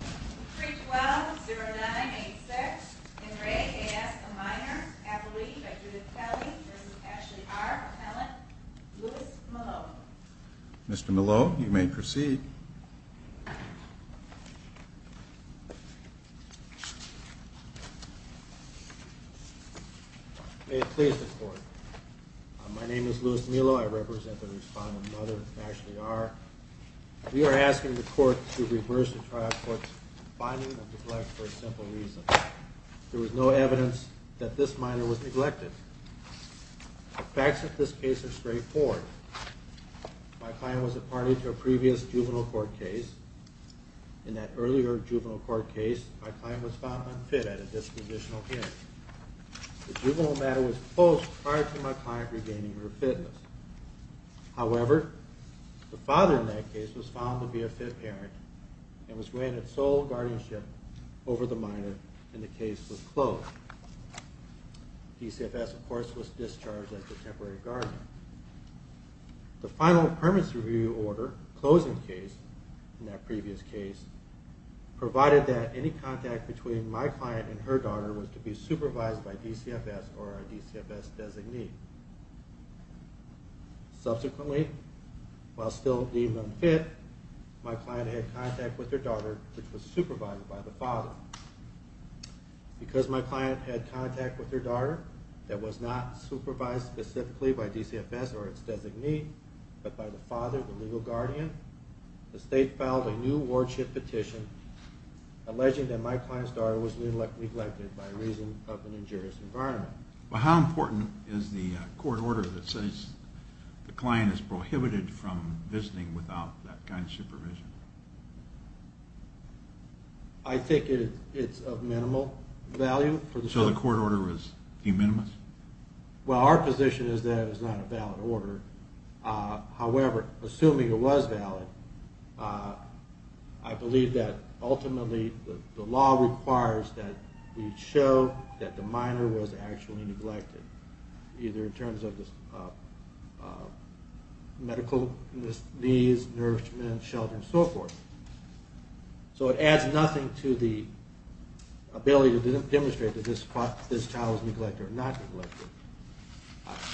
312-09-86. In re A.S. a minor. Appellee by Judith Kelly v. Ashley R. Appellant Louis Millo. Mr. Millo, you may proceed. May it please the Court. My name is Louis Millo. I represent the respondent, Mother Ashley R. We are asking the Court to reverse the trial court's finding of neglect for a simple reason. There was no evidence that this minor was neglected. The facts of this case are straightforward. My client was a party to a previous juvenile court case. In that earlier juvenile court case my client was found unfit at a dispositional hearing. The juvenile matter was closed prior to my client regaining her fitness. However, the father in that case was found to be a fit parent and was granted sole guardianship over the minor and the case was closed. DCFS of course was discharged as a temporary guardian. The final permits review order, closing case, provided that any contact between my client and her daughter was to be supervised by DCFS or a DCFS designee. Subsequently, while still deemed unfit, my client had contact with her daughter, which was supervised by the father. Because my client had contact with her daughter that was not supervised specifically by DCFS or its designee, but by the father, the legal guardian, the state filed a new wardship petition alleging that my client's daughter was neglected by reason of an injurious environment. Well, how important is the court order that says the client is prohibited from visiting without that kind of supervision? I think it's of minimal value. So the court order is de minimis? Well, our position is that it's not a valid order. However, assuming it was valid, I believe that ultimately the law requires that we show that the minor was actually neglected, either in terms of medical needs, nourishment, shelter, and so forth. So it adds nothing to the ability to demonstrate that this child was neglected or not neglected.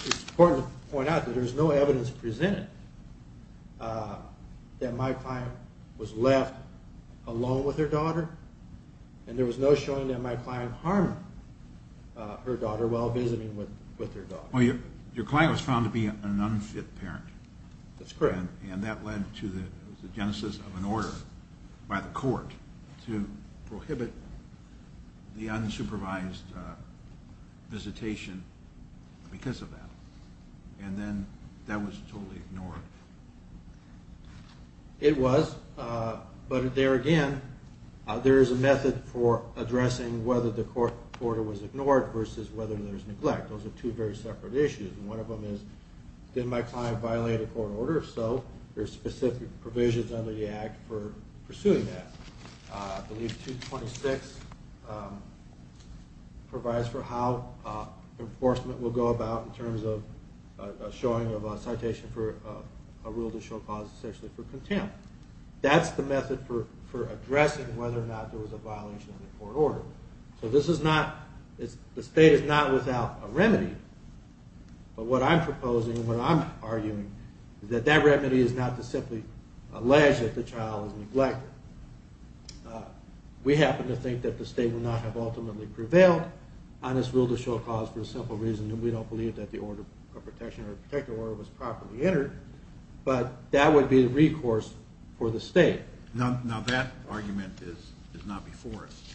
It's important to point out that there's no evidence presented that my client was left alone with her daughter, and there was no showing that my client harmed her daughter while visiting with her daughter. Well, your client was found to be an unfit parent. That's correct. And that led to the genesis of an order by the court to prohibit the unsupervised visitation because of that. And then that was totally ignored. It was, but there again, there is a method for addressing whether the court order was ignored versus whether there's neglect. Those are two very separate issues, and one of them is, did my client violate a court order? If so, there's specific provisions under the Act for pursuing that. I believe 226 provides for how enforcement will go about in terms of showing of a citation for a rule to show cause essentially for contempt. That's the method for addressing whether or not there was a violation of the court order. So this is not, the state is not without a remedy, but what I'm proposing and what I'm arguing is that that remedy is not to simply allege that the child was neglected. We happen to think that the state would not have ultimately prevailed on this rule to show cause for a simple reason, and we don't believe that the order of protection or protective order was properly entered, but that would be the recourse for the state. Now that argument is not before us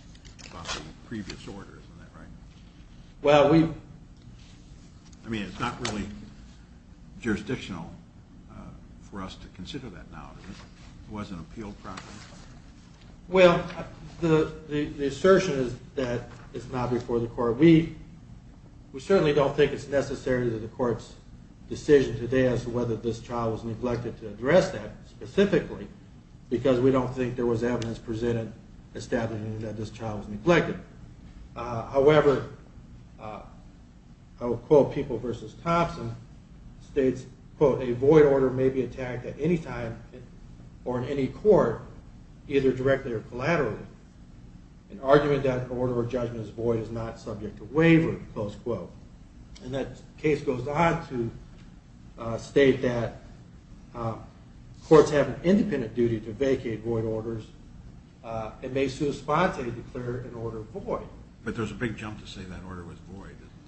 about the previous order, isn't that right? Well, we... I mean, it's not really jurisdictional for us to consider that now. It wasn't appealed properly? Well, the assertion is that it's not before the court. We certainly don't think it's necessary that the court's decision today as to whether this child was neglected to address that specifically because we don't think there was evidence presented establishing that this child was neglected. However, I will quote People v. Thompson, states, quote, a void order may be attacked at any time or in any court, either directly or collaterally. An argument that an order of judgment is void is not subject to waiver, close quote. And that case goes on to state that courts have an independent duty to vacate void orders and may sui sponte declare an order void. But there's a big jump to say that order was void, isn't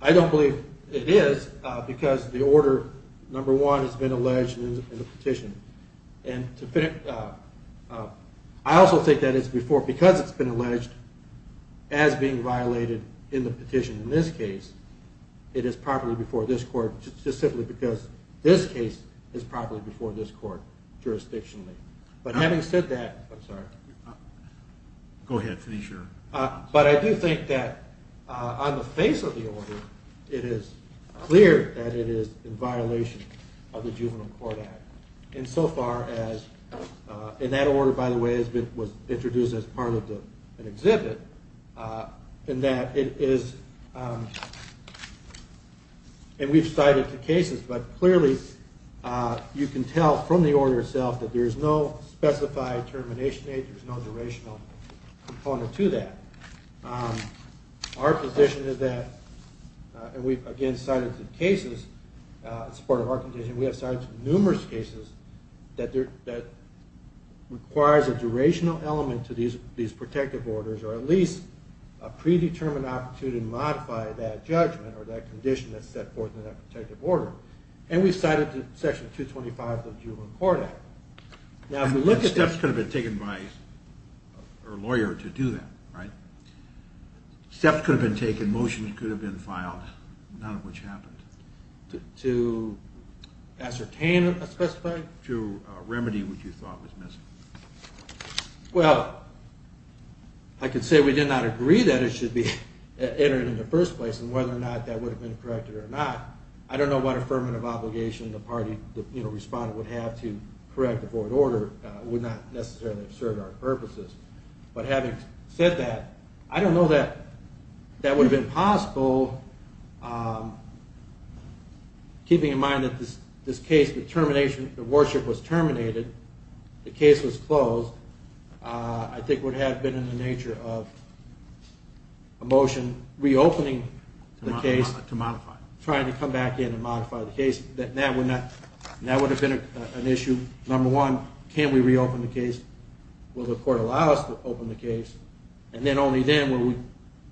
there? I don't believe it is because the order, number one, has been alleged in the petition. I also think that it's before because it's been alleged as being violated in the petition. In this case, it is properly before this court just simply because this case is properly before this court jurisdictionally. But having said that, I'm sorry. Go ahead, finish your... But I do think that on the face of the order, it is clear that it is in violation of the Juvenile Court Act. And so far as, and that order, by the way, was introduced as part of an exhibit. And that it is, and we've cited the cases, but clearly you can tell from the order itself that there is no specified termination age. There's no durational component to that. Our position is that, and we've again cited the cases in support of our condition, we have cited numerous cases that requires a durational element to these protective orders or at least a predetermined opportunity to modify that judgment or that condition that's set forth in that protective order. And we've cited Section 225 of the Juvenile Court Act. And steps could have been taken by a lawyer to do that, right? Steps could have been taken, motions could have been filed, none of which happened. To ascertain a specified? To remedy what you thought was missing. Well, I can say we did not agree that it should be entered in the first place and whether or not that would have been corrected or not. I don't know what affirmative obligation the party, the respondent, would have to correct the court order. It would not necessarily have served our purposes. But having said that, I don't know that that would have been possible. Keeping in mind that this case, the termination, the warship was terminated, the case was closed, I think it would have been in the nature of a motion reopening the case. To modify it. Trying to come back in and modify the case. That would have been an issue. Number one, can we reopen the case? Will the court allow us to open the case? And then only then will we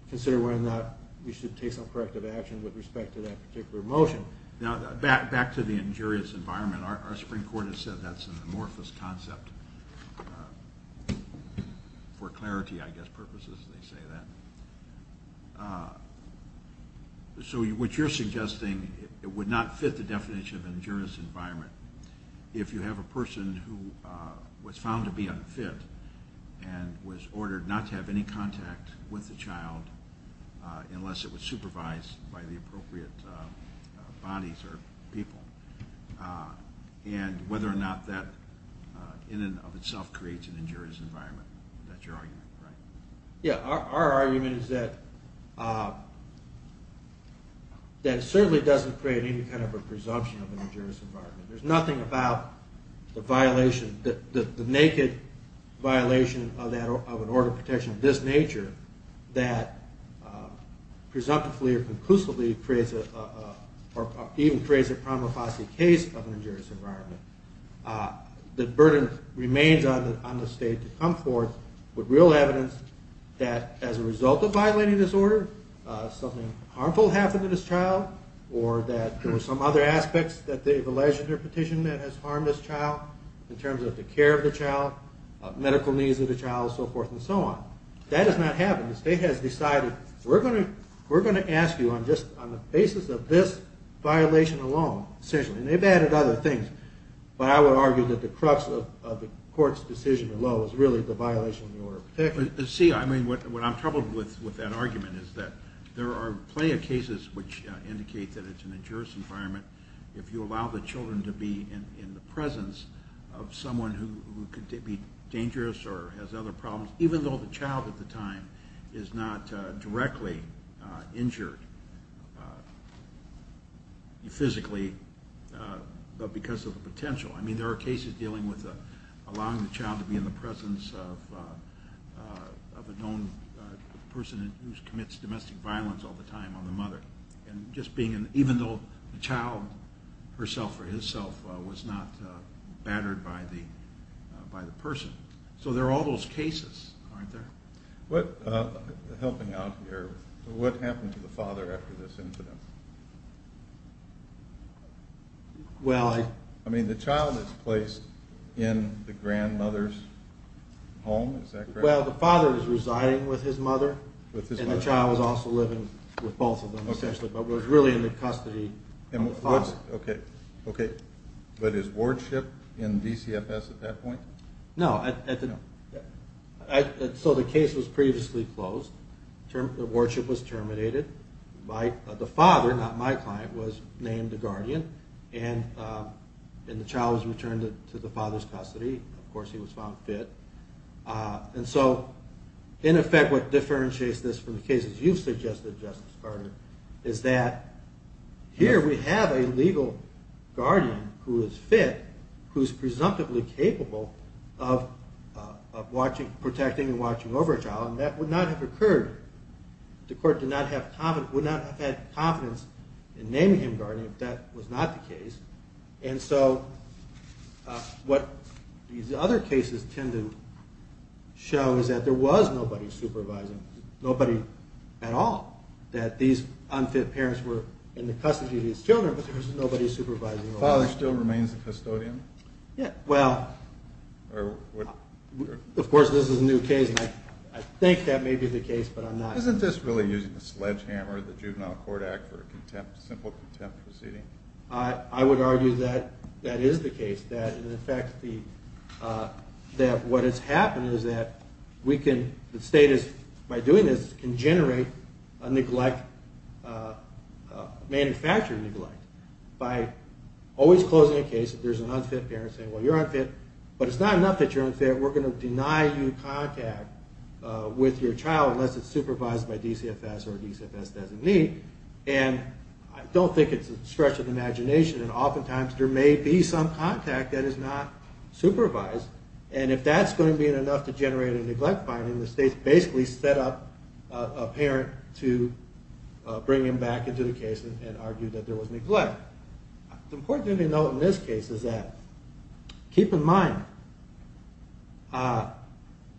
consider whether or not we should take some corrective action with respect to that particular motion. Back to the injurious environment. Our Supreme Court has said that's an amorphous concept. For clarity, I guess, purposes, they say that. So what you're suggesting would not fit the definition of injurious environment. If you have a person who was found to be unfit and was ordered not to have any contact with the child unless it was supervised by the appropriate bodies or people. And whether or not that in and of itself creates an injurious environment. That's your argument, right? Yeah, our argument is that it certainly doesn't create any kind of a presumption of an injurious environment. There's nothing about the violation, the naked violation of an order of protection of this nature that presumptively or conclusively creates or even creates a prima facie case of an injurious environment. The burden remains on the state to come forth with real evidence that as a result of violating this order, something harmful happened to this child or that there were some other aspects that they've alleged in their petition that has harmed this child in terms of the care of the child, medical needs of the child, and so forth and so on. That has not happened. The state has decided we're going to ask you on the basis of this violation alone, and they've added other things, but I would argue that the crux of the court's decision alone is really the violation of the order of protection. See, what I'm troubled with with that argument is that there are plenty of cases which indicate that it's an injurious environment if you allow the children to be in the presence of someone who could be dangerous or has other problems even though the child at the time is not directly injured physically but because of the potential. I mean, there are cases dealing with allowing the child to be in the presence of a known person who commits domestic violence all the time on the mother, and just being an even though the child herself or himself was not battered by the person. So there are all those cases, aren't there? Helping out here, what happened to the father after this incident? Well, I... I mean, the child is placed in the grandmother's home, is that correct? Well, the father is residing with his mother, and the child is also living with both of them essentially, but was really in the custody of the father. Okay, okay. But is wardship in DCFS at that point? No. So the case was previously closed. Wardship was terminated. The father, not my client, was named a guardian, and the child was returned to the father's custody. Of course he was found fit. And so in effect what differentiates this from the cases you've suggested, Justice Carter, is that here we have a legal guardian who is fit, who is presumptively capable of protecting and watching over a child, and that would not have occurred... the court would not have had confidence in naming him guardian if that was not the case. And so what these other cases tend to show is that there was nobody supervising, nobody at all, that these unfit parents were in the custody of these children, but there was nobody supervising. The father still remains the custodian? Well, of course this is a new case, and I think that may be the case, but I'm not... Isn't this really using a sledgehammer, the Juvenile Court Act, for a simple contempt proceeding? I would argue that that is the case, that in effect what has happened is that we can... a neglect, manufactured neglect, by always closing a case if there's an unfit parent saying, well, you're unfit, but it's not enough that you're unfit. We're going to deny you contact with your child unless it's supervised by DCFS or DCFS doesn't need. And I don't think it's a stretch of the imagination, and oftentimes there may be some contact that is not supervised, and if that's going to be enough to generate a neglect finding, the state's basically set up a parent to bring him back into the case and argue that there was neglect. The important thing to note in this case is that, keep in mind,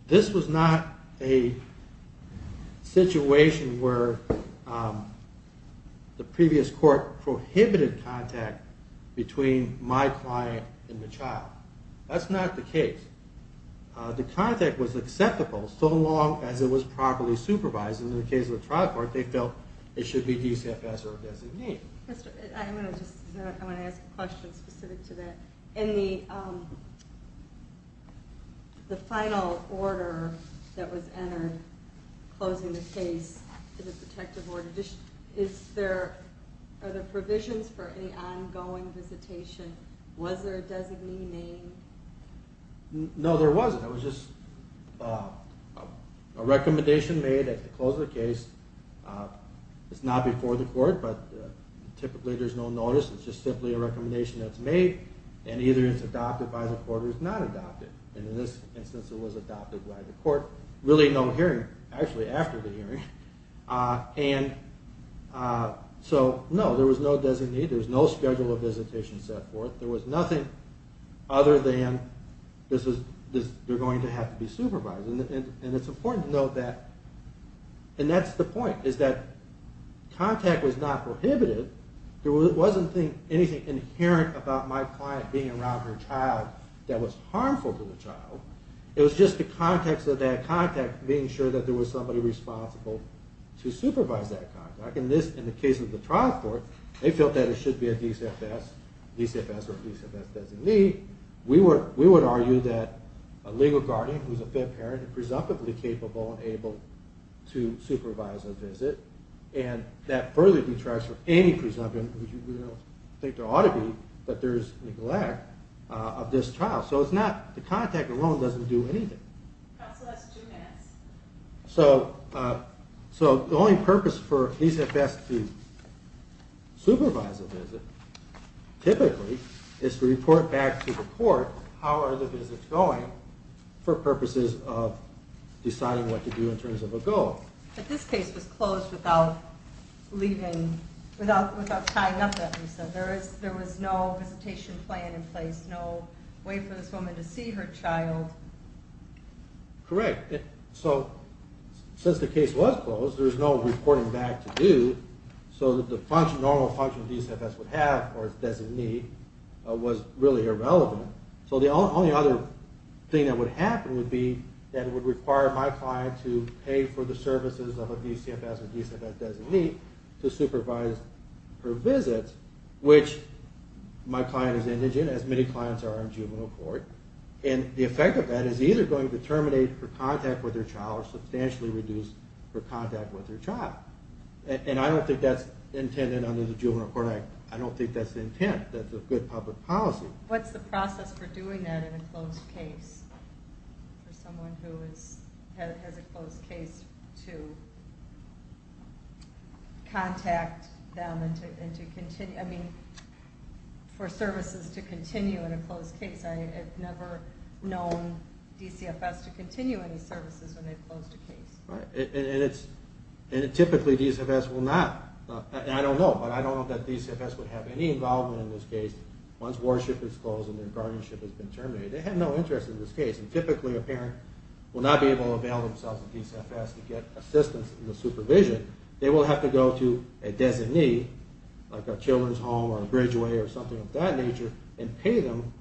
this was not a situation where the previous court prohibited contact between my client and the child. That's not the case. The contact was acceptable so long as it was properly supervised, and in the case of the trial court, they felt it should be DCFS or a designee. I want to ask a question specific to that. In the final order that was entered, closing the case to the protective order, are there provisions for any ongoing visitation? Was there a designee name? No, there wasn't. It was just a recommendation made at the close of the case. It's not before the court, but typically there's no notice. It's just simply a recommendation that's made, and either it's adopted by the court or it's not adopted. And in this instance, it was adopted by the court. Really no hearing, actually, after the hearing. And so, no, there was no designee, there was no schedule of visitation set forth. There was nothing other than they're going to have to be supervised. And it's important to note that, and that's the point, is that contact was not prohibited. There wasn't anything inherent about my client being around her child that was harmful to the child. It was just the context of that contact being sure that there was somebody responsible to supervise that contact. In the case of the trial court, they felt that it should be a DCFS, DCFS or DCFS designee. We would argue that a legal guardian who's a fed parent is presumptively capable and able to supervise a visit. And that further detracts from any presumption, which we don't think there ought to be, that there's neglect of this trial. So it's not, the contact alone doesn't do anything. Counsel, that's two minutes. So the only purpose for DCFS to supervise a visit, typically, is to report back to the court, how are the visits going, for purposes of deciding what to do in terms of a goal. But this case was closed without leaving, without tying up that reason. There was no visitation plan in place, no way for this woman to see her child. Correct. So since the case was closed, there was no reporting back to do. So the normal function a DCFS would have, or a designee, was really irrelevant. So the only other thing that would happen would be that it would require my client to pay for the services of a DCFS or DCFS designee to supervise her visits, which my client is indigent, as many clients are in juvenile court. And the effect of that is either going to terminate her contact with her child or substantially reduce her contact with her child. And I don't think that's intended under the Juvenile Court Act. I don't think that's the intent. That's a good public policy. What's the process for doing that in a closed case? For someone who has a closed case to contact them and to continue... I mean, for services to continue in a closed case. I've never known DCFS to continue any services when they've closed a case. And typically DCFS will not. I don't know, but I don't know that DCFS would have any involvement in this case. Once warship is closed and their guardianship has been terminated, they have no interest in this case. And typically a parent will not be able to avail themselves of DCFS to get assistance in the supervision. They will have to go to a designee, like a children's home or a bridgeway or something of that nature, and pay them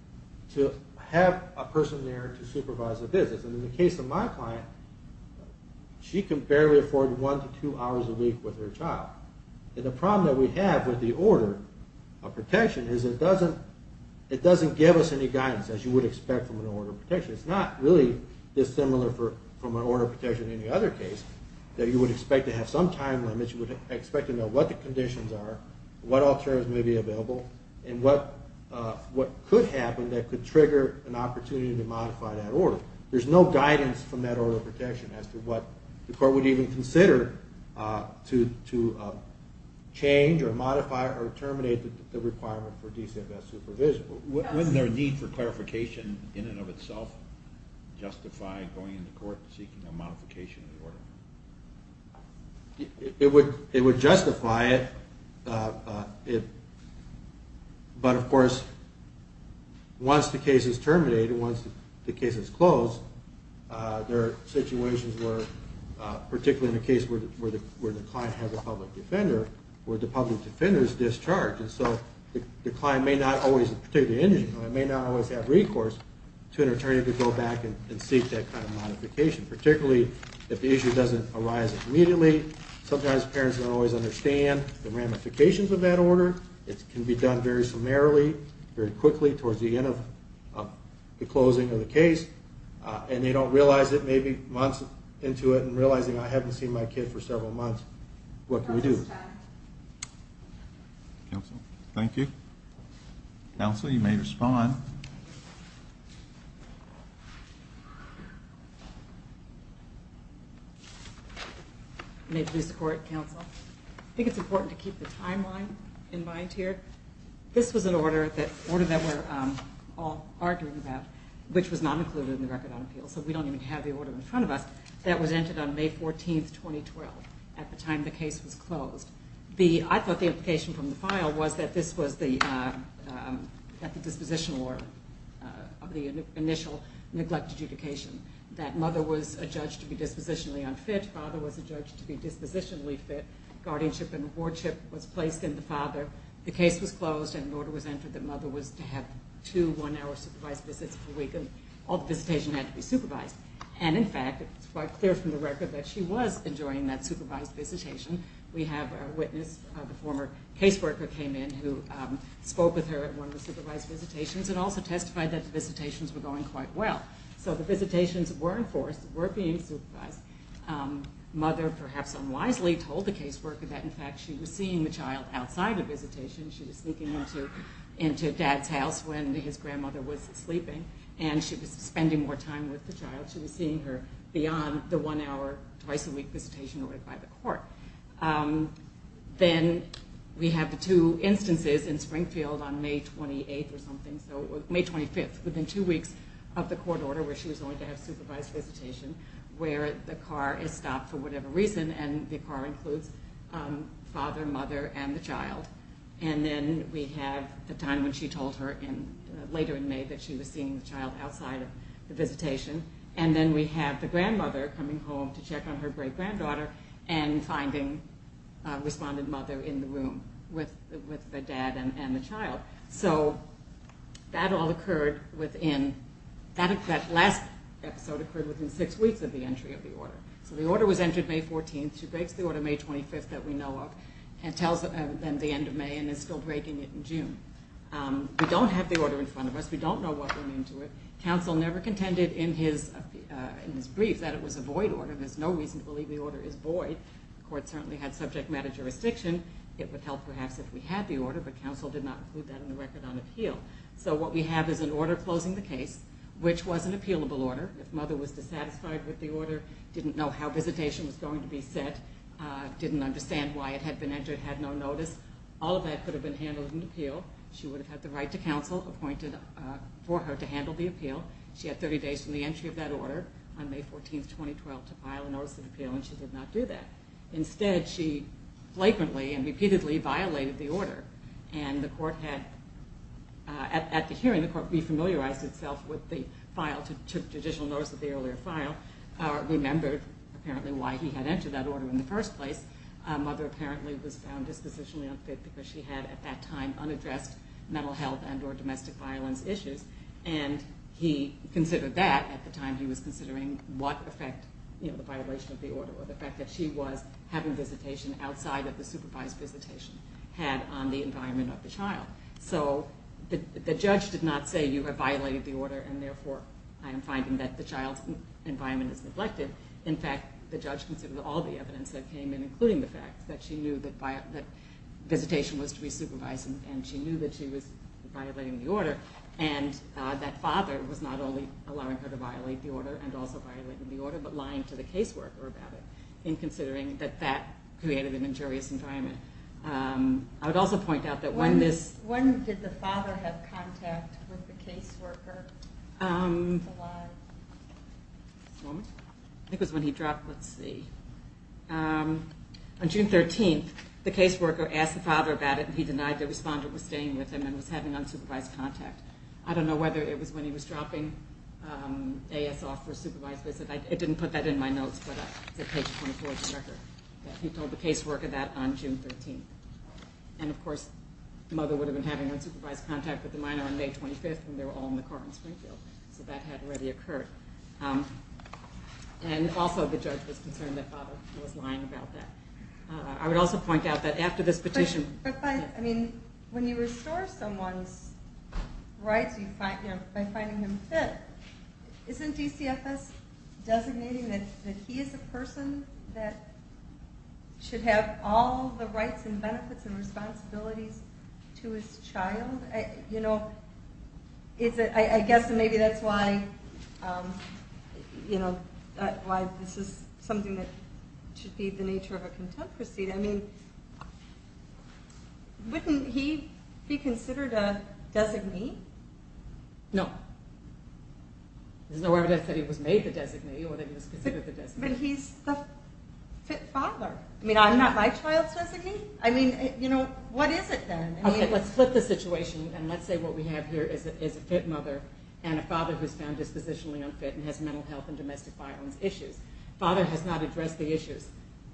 to have a person there to supervise the visits. And in the case of my client, she can barely afford one to two hours a week with her child. And the problem that we have with the order of protection is it doesn't give us any guidance, as you would expect from an order of protection. It's not really dissimilar from an order of protection in any other case, that you would expect to have some time limits. You would expect to know what the conditions are, what alternatives may be available, and what could happen that could trigger an opportunity to modify that order. So there's no guidance from that order of protection as to what the court would even consider to change or modify or terminate the requirement for DCFS supervision. Wouldn't there be a need for clarification in and of itself, justify going to court seeking a modification of the order? It would justify it, but of course, once the case is terminated, once the case is closed, there are situations where, particularly in a case where the client has a public defender, where the public defender is discharged, and so the client may not always have recourse to an attorney to go back and seek that kind of modification. Particularly if the issue doesn't arise immediately, sometimes parents don't always understand the ramifications of that order. It can be done very summarily, very quickly towards the end of the closing of the case, and they don't realize it, maybe months into it, and realizing I haven't seen my kid for several months, what can we do? Counsel, thank you. Counsel, you may respond. I think it's important to keep the timeline in mind here. This was an order that we're all arguing about, which was not included in the Record on Appeals, so we don't even have the order in front of us, that was entered on May 14, 2012, at the time the case was closed. I thought the implication from the file was that this was at the disposition order of the initial neglect adjudication, that mother was adjudged to be dispositionally unfit, father was adjudged to be dispositionally fit, guardianship and wardship was placed in the father, the case was closed and an order was entered that mother was to have two one-hour supervised visits per week, and all the visitation had to be supervised. And in fact, it's quite clear from the record that she was enjoying that supervised visitation. We have a witness, a former caseworker came in who spoke with her at one of the supervised visitations and also testified that the visitations were going quite well. So the visitations were enforced, were being supervised. Mother, perhaps unwisely, told the caseworker that in fact she was seeing the child outside the visitation, she was sneaking into dad's house when his grandmother was sleeping, and she was spending more time with the child, she was seeing her beyond the one-hour, twice-a-week visitation ordered by the court. Then we have the two instances in Springfield on May 28th or something, so May 25th, within two weeks of the court order where she was going to have supervised visitation, where the car is stopped for whatever reason, and the car includes father, mother, and the child. And then we have the time when she told her later in May that she was seeing the child outside of the visitation. And then we have the grandmother coming home to check on her great-granddaughter and finding a respondent mother in the room with the dad and the child. So that all occurred within, that last episode occurred within six weeks of the entry of the order. So the order was entered May 14th. She breaks the order May 25th that we know of and tells them the end of May and is still breaking it in June. We don't have the order in front of us. We don't know what went into it. Counsel never contended in his brief that it was a void order. There's no reason to believe the order is void. The court certainly had subject matter jurisdiction. It would help perhaps if we had the order, but counsel did not include that in the record on appeal. So what we have is an order closing the case, which was an appealable order. If mother was dissatisfied with the order, didn't know how visitation was going to be set, didn't understand why it had been entered, had no notice, all of that could have been handled in appeal. She would have had the right to counsel appointed for her to handle the appeal. She had 30 days from the entry of that order on May 14th, 2012, to file a notice of appeal, and she did not do that. Instead, she flagrantly and repeatedly violated the order, and the court had, at the hearing, the court re-familiarized itself with the file, took judicial notice of the earlier file, remembered apparently why he had entered that order in the first place. Mother apparently was found dispositionally unfit because she had at that time unaddressed mental health and or domestic violence issues, and he considered that at the time he was considering what effect, you know, the violation of the order or the fact that she was having visitation outside of the supervised visitation had on the environment of the child. So the judge did not say, you have violated the order, and therefore I am finding that the child's environment is neglected. In fact, the judge considered all the evidence that came in, including the fact that she knew that visitation was to be supervised and she knew that she was violating the order, and that father was not only allowing her to violate the order and also violating the order, but lying to the caseworker about it, in considering that that created an injurious environment. I would also point out that when this... When did the father have contact with the caseworker? I think it was when he dropped, let's see. On June 13th, the caseworker asked the father about it, and he denied the responder was staying with him and was having unsupervised contact. I don't know whether it was when he was dropping A.S. off for a supervised visit. It didn't put that in my notes, but it's on page 24 of the record. He told the caseworker that on June 13th. And of course, the mother would have been having unsupervised contact with the minor on May 25th when they were all in the car in Springfield, so that had already occurred. And also the judge was concerned that father was lying about that. I would also point out that after this petition... I mean, when you restore someone's rights by finding them fit, isn't DCFS designating that he is a person that should have all the rights and benefits and responsibilities to his child? I guess maybe that's why this is something that should be the nature of a contempt proceed. I mean, wouldn't he be considered a designee? No. There's no evidence that he was made the designee or that he was considered the designee. But he's the fit father. I mean, I'm not my child's designee? I mean, you know, what is it then? Okay, let's flip the situation, and let's say what we have here is a fit mother and a father who's found dispositionally unfit and has mental health and domestic violence issues. Father has not addressed the issues,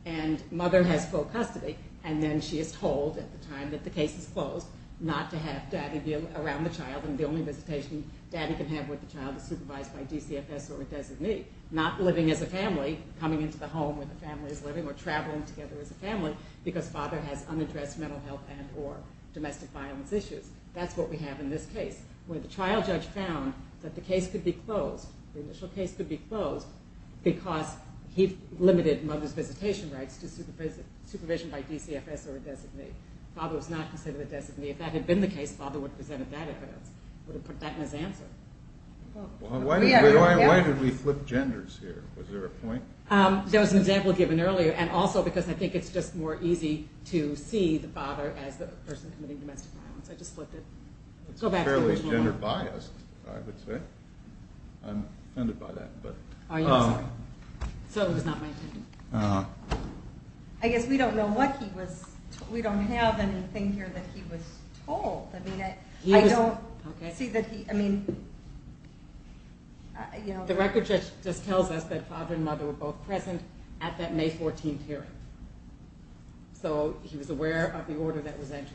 and mother has full custody, and then she is told at the time that the case is closed not to have daddy around the child, and the only visitation daddy can have with the child is supervised by DCFS or a designee, not living as a family, coming into the home where the family is living, or traveling together as a family because father has unaddressed mental health and or domestic violence issues. That's what we have in this case, where the trial judge found that the case could be closed, the initial case could be closed because he limited mother's visitation rights to supervision by DCFS or a designee. Father was not considered a designee. If that had been the case, father would have presented that evidence, would have put that in his answer. Why did we flip genders here? Was there a point? There was an example given earlier, and also because I think it's just more easy to see the father as the person committing domestic violence. I just flipped it. It's fairly gender-biased, I would say. I'm offended by that. Oh, yeah, sorry. So it was not my intention. Uh-huh. I guess we don't know what he was told. We don't have anything here that he was told. I mean, I don't see that he, I mean, you know. The record just tells us that father and mother were both present at that May 14th hearing, so he was aware of the order that was entered.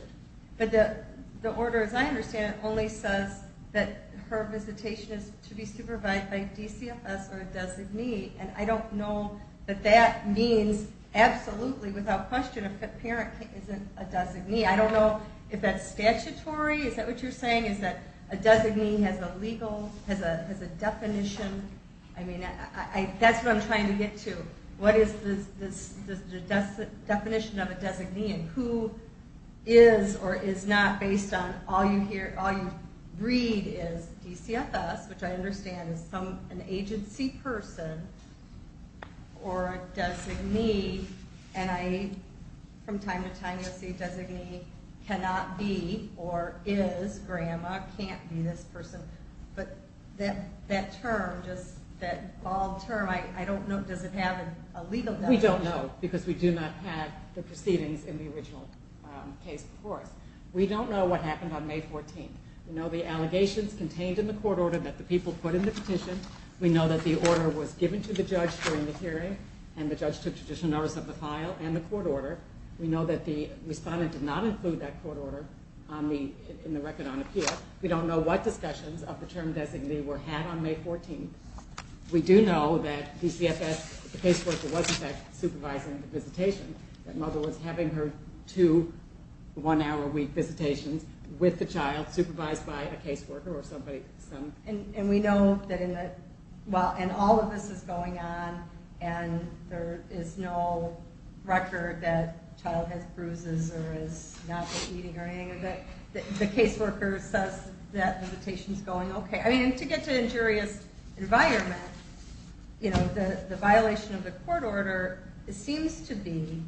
But the order, as I understand it, only says that her visitation is to be supervised by DCFS or a designee, and I don't know that that means absolutely without question a parent isn't a designee. I don't know if that's statutory. Is that what you're saying, is that a designee has a legal, has a definition? I mean, that's what I'm trying to get to. What is the definition of a designee and who is or is not based on all you read is DCFS, which I understand is an agency person or a designee, and from time to time you'll see designee cannot be or is grandma, can't be this person. But that term, just that bold term, I don't know, does it have a legal definition? Well, we don't know because we do not have the proceedings in the original case before us. We don't know what happened on May 14th. We know the allegations contained in the court order that the people put in the petition. We know that the order was given to the judge during the hearing and the judge took judicial notice of the file and the court order. We know that the respondent did not include that court order in the record on appeal. We don't know what discussions of the term designee were had on May 14th. We do know that DCFS, the caseworker, was in fact supervising the visitation, that mother was having her two one-hour-a-week visitations with the child, supervised by a caseworker or somebody. And we know that in the, well, and all of this is going on and there is no record that child has bruises or is not eating or anything like that. The caseworker says that visitation's going okay. I mean, to get to injurious environment, you know, the violation of the court order seems to be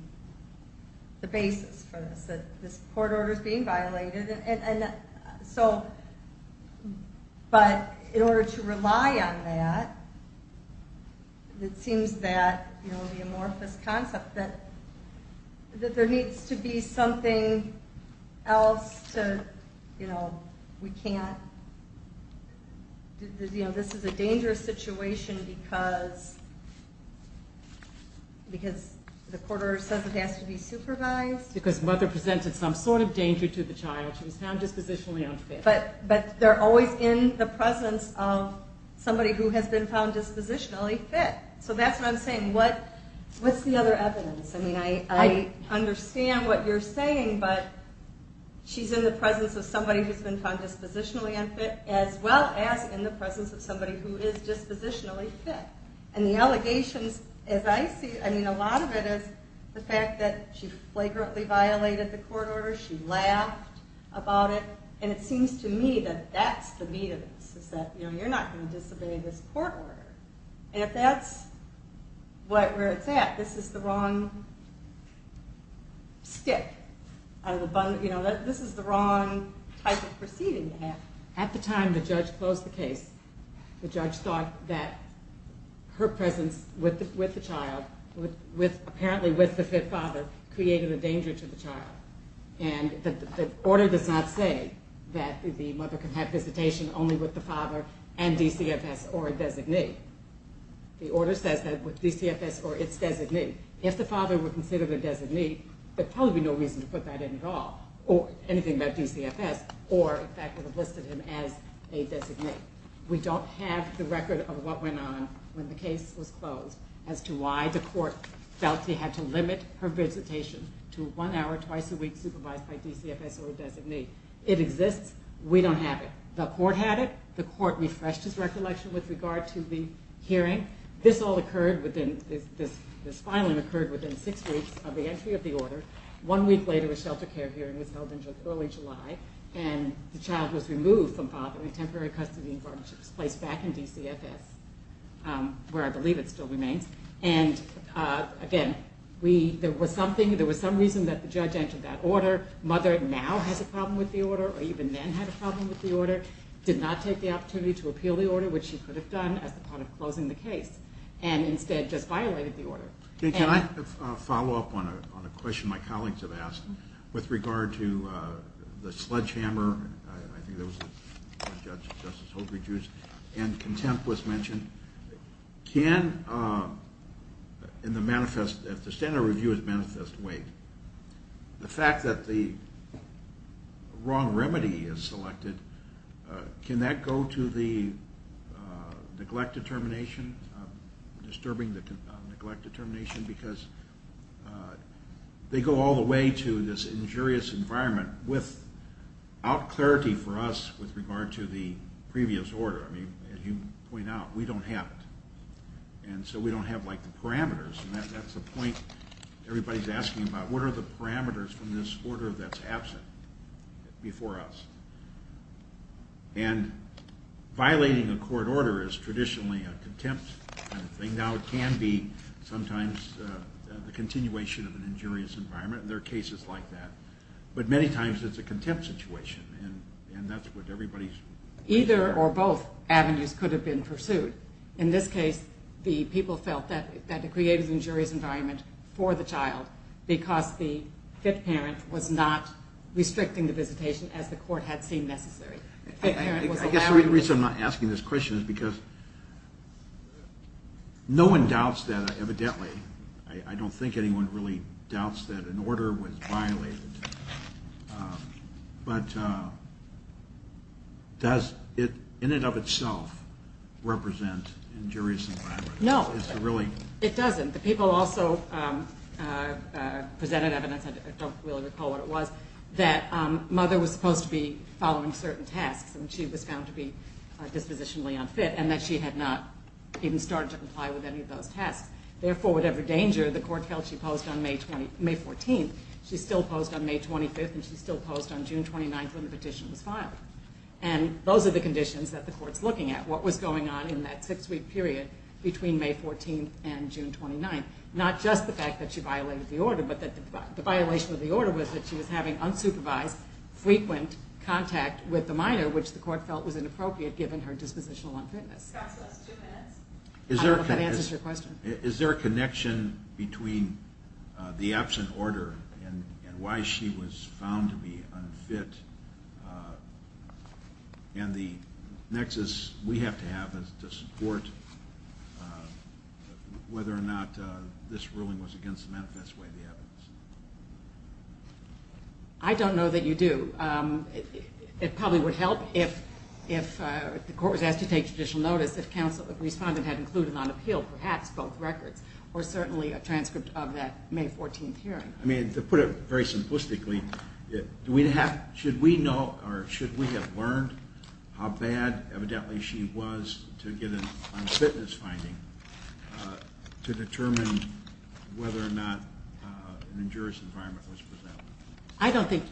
the basis for this, that this court order's being violated. And so, but in order to rely on that, it seems that, you know, the amorphous concept that there needs to be something else to, you know, we can't, you know, this is a dangerous situation because the court order says it has to be supervised. Because mother presented some sort of danger to the child. She was found dispositionally unfit. But they're always in the presence of somebody who has been found dispositionally fit. So that's what I'm saying. What's the other evidence? I mean, I understand what you're saying, but she's in the presence of somebody who's been found dispositionally unfit as well as in the presence of somebody who is dispositionally fit. And the allegations, as I see, I mean, a lot of it is the fact that she flagrantly violated the court order. She laughed about it. And it seems to me that that's the meat of this, is that, you know, you're not going to disobey this court order. And if that's where it's at, this is the wrong step. You know, this is the wrong type of proceeding to have. At the time the judge closed the case, the judge thought that her presence with the child, apparently with the fit father, created a danger to the child. And the order does not say that the mother can have visitation only with the father and DCFS or a designee. The order says that with DCFS or its designee. If the father were considered a designee, there'd probably be no reason to put that in at all, or anything about DCFS, or in fact would have listed him as a designee. We don't have the record of what went on when the case was closed as to why the court felt he had to limit her visitation to one hour twice a week supervised by DCFS or a designee. It exists. We don't have it. The court had it. The court refreshed its recollection with regard to the hearing. This all occurred within, this filing occurred within six weeks of the entry of the order. One week later, a shelter care hearing was held in early July, and the child was removed from fatherly temporary custody and guardianship was placed back in DCFS, where I believe it still remains. And again, there was something, there was some reason that the judge entered that order. The mother now has a problem with the order, or even then had a problem with the order, did not take the opportunity to appeal the order, which she could have done as a part of closing the case, and instead just violated the order. Can I follow up on a question my colleagues have asked with regard to the sledgehammer? I think there was a judge, Justice Holbrooke, and contempt was mentioned. Can, in the manifest, if the standard review is manifest, wait. The fact that the wrong remedy is selected, can that go to the neglect determination, disturbing the neglect determination, because they go all the way to this injurious environment without clarity for us with regard to the previous order. I mean, as you point out, we don't have it. And so we don't have, like, the parameters. And that's the point everybody's asking about. What are the parameters from this order that's absent before us? And violating a court order is traditionally a contempt kind of thing. Now it can be sometimes the continuation of an injurious environment. There are cases like that. But many times it's a contempt situation, and that's what everybody's... Either or both avenues could have been pursued. In this case, the people felt that it created an injurious environment for the child because the fit parent was not restricting the visitation as the court had seen necessary. I guess the reason I'm not asking this question is because no one doubts that, evidently. I don't think anyone really doubts that an order was violated. But does it in and of itself represent injurious environment? No, it doesn't. The people also presented evidence. I don't really recall what it was. That mother was supposed to be following certain tasks, and she was found to be dispositionally unfit, and that she had not even started to comply with any of those tasks. Therefore, whatever danger the court held she posed on May 14th, she still posed on May 25th, and she still posed on June 29th when the petition was filed. And those are the conditions that the court's looking at, what was going on in that six-week period between May 14th and June 29th. Not just the fact that she violated the order, but that the violation of the order was that she was having unsupervised, frequent contact with the minor, which the court felt was inappropriate given her dispositional unfitness. Scott's last two minutes. I don't know if that answers your question. Is there a connection between the absent order and why she was found to be unfit? And the nexus we have to have is to support whether or not this ruling was against the manifest way of the evidence. I don't know that you do. It probably would help if the court was asked to take judicial notice if counsel or respondent had included on appeal perhaps both records or certainly a transcript of that May 14th hearing. To put it very simplistically, should we have learned how bad, evidently, she was to get an unfitness finding to determine whether or not an injurious environment was present? I don't think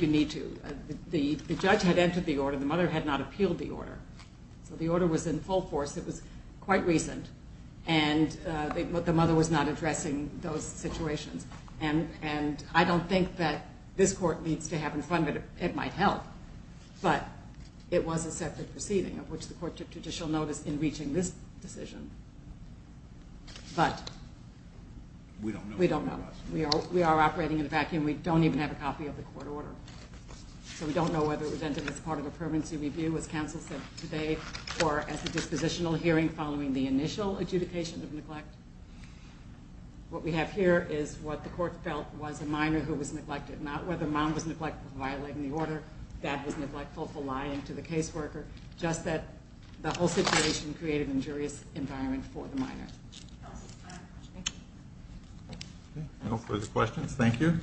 you need to. The judge had entered the order. The mother had not appealed the order. So the order was in full force. It was quite recent. And the mother was not addressing those situations. And I don't think that this court needs to have in front of it. It might help. But it was a separate proceeding of which the court took judicial notice in reaching this decision. But we don't know. We are operating in a vacuum. We don't even have a copy of the court order. So we don't know whether it was entered as part of a permanency review, as counsel said today, or as a dispositional hearing following the initial adjudication of neglect. What we have here is what the court felt was a minor who was neglected, not whether mom was neglectful of violating the order, dad was neglectful for lying to the caseworker, just that the whole situation created an injurious environment for the minor. Thank you. No further questions. Thank you.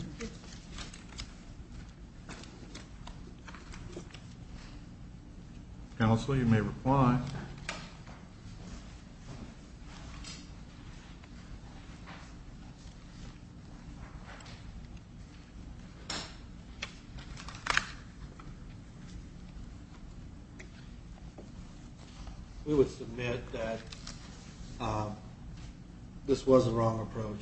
Counsel, you may reply. Thank you. We would submit that this was a wrong approach,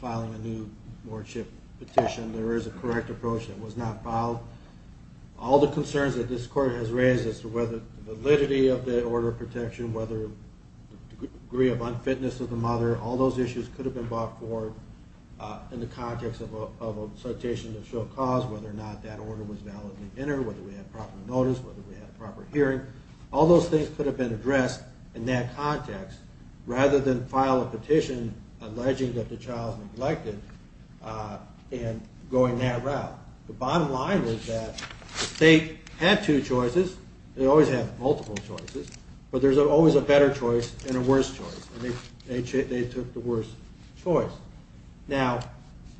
filing a new wardship petition. There is a correct approach that was not filed. All the concerns that this court has raised as to whether the validity of the order of protection, whether the degree of unfitness of the mother, all those issues could have been brought forward in the context of a citation that showed cause, whether or not that order was validly entered, whether we had proper notice, whether we had a proper hearing. All those things could have been addressed in that context rather than file a petition alleging that the child is neglected and going that route. The bottom line was that the state had two choices, they always have multiple choices, but there's always a better choice and a worse choice, and they took the worse choice. Now,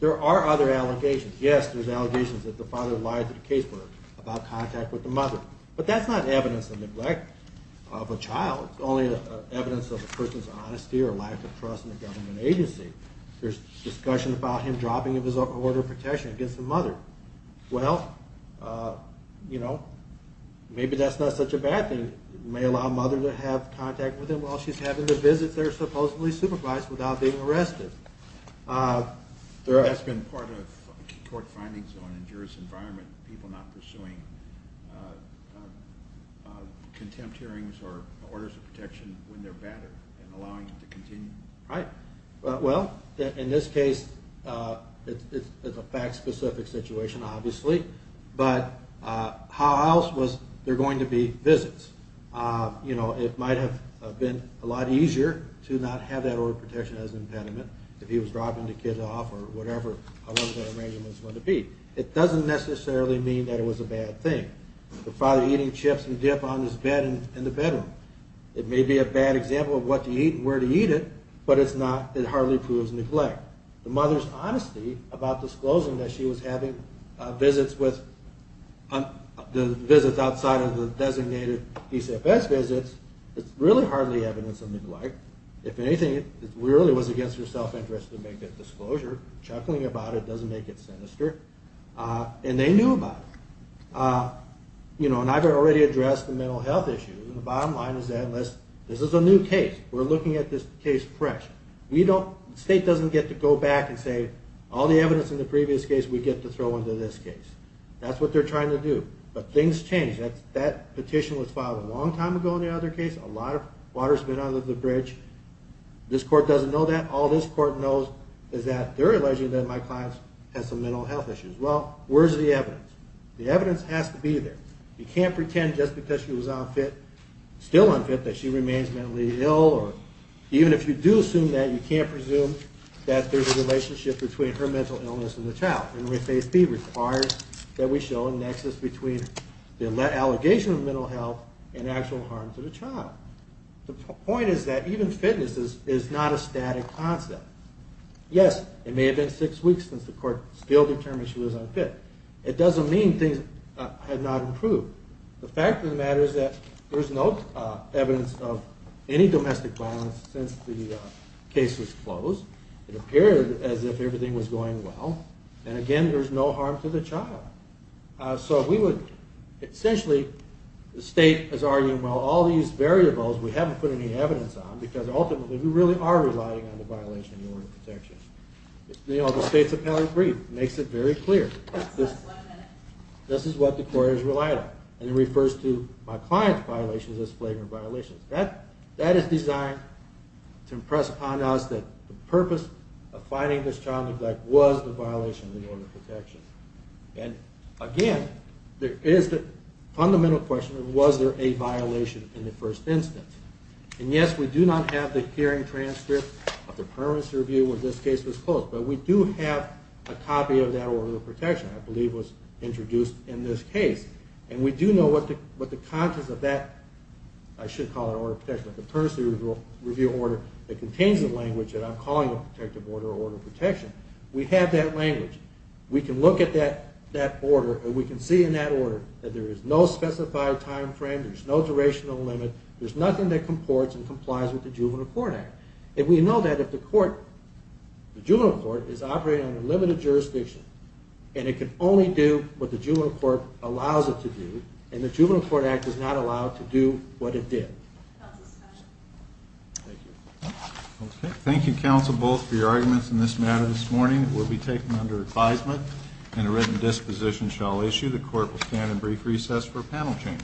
there are other allegations. Yes, there's allegations that the father lied to the caseworker about contact with the mother, but that's not evidence of neglect of a child. It's only evidence of a person's honesty or lack of trust in the government agency. There's discussion about him dropping his order of protection against the mother. Well, you know, maybe that's not such a bad thing. It may allow the mother to have contact with him while she's having the visits they're supposedly supervised without being arrested. That's been part of court findings on a juris environment, people not pursuing contempt hearings or orders of protection when they're battered and allowing it to continue. Right. Well, in this case, it's a fact-specific situation, obviously, but how else was there going to be visits? You know, it might have been a lot easier to not have that order of protection as an impediment if he was dropping the kids off or whatever the arrangement was going to be. It doesn't necessarily mean that it was a bad thing. The father eating chips and dip on his bed in the bedroom. It may be a bad example of what to eat and where to eat it, but it hardly proves neglect. The mother's honesty about disclosing that she was having visits outside of the designated PCFS visits, it's really hardly evidence of neglect. If anything, it really was against her self-interest to make that disclosure. Chuckling about it doesn't make it sinister. And they knew about it. You know, and I've already addressed the mental health issue. The bottom line is that this is a new case. We're looking at this case fresh. The state doesn't get to go back and say, all the evidence in the previous case we get to throw into this case. That's what they're trying to do. But things change. That petition was filed a long time ago in the other case. A lot of water's been under the bridge. This court doesn't know that. All this court knows is that they're alleging that my client has some mental health issues. Well, where's the evidence? The evidence has to be there. You can't pretend just because she was unfit, still unfit, that she remains mentally ill. Even if you do assume that, you can't presume that there's a relationship between her mental illness and the child. And Refase B requires that we show a nexus between the allegation of mental health and actual harm to the child. The point is that even fitness is not a static concept. Yes, it may have been six weeks since the court still determined she was unfit. It doesn't mean things have not improved. The fact of the matter is that there's no evidence of any domestic violence since the case was closed. It appeared as if everything was going well. And, again, there's no harm to the child. So we would essentially, the state is arguing, well, all these variables we haven't put any evidence on because ultimately we really are relying on the violation of the order of protection. The state's appellate brief makes it very clear. This is what the court has relied on. And it refers to my client's violations as flagrant violations. That is designed to impress upon us that the purpose of finding this child neglect was the violation of the order of protection. And, again, there is the fundamental question of was there a violation in the first instance. And, yes, we do not have the hearing transcript of the permanency review when this case was closed. But we do have a copy of that order of protection I believe was introduced in this case. And we do know what the contents of that, I should call it order of protection, the permanency review order that contains the language that I'm calling a protective order or order of protection. We have that language. We can look at that order and we can see in that order that there is no specified time frame. There's no durational limit. There's nothing that comports and complies with the Juvenile Court Act. And we know that if the court, the Juvenile Court, is operating under limited jurisdiction and it can only do what the Juvenile Court allows it to do and the Juvenile Court Act does not allow it to do what it did. Thank you. Okay. Thank you, counsel, both, for your arguments in this matter this morning. It will be taken under advisement and a written disposition shall issue. The court will stand in brief recess for panel change.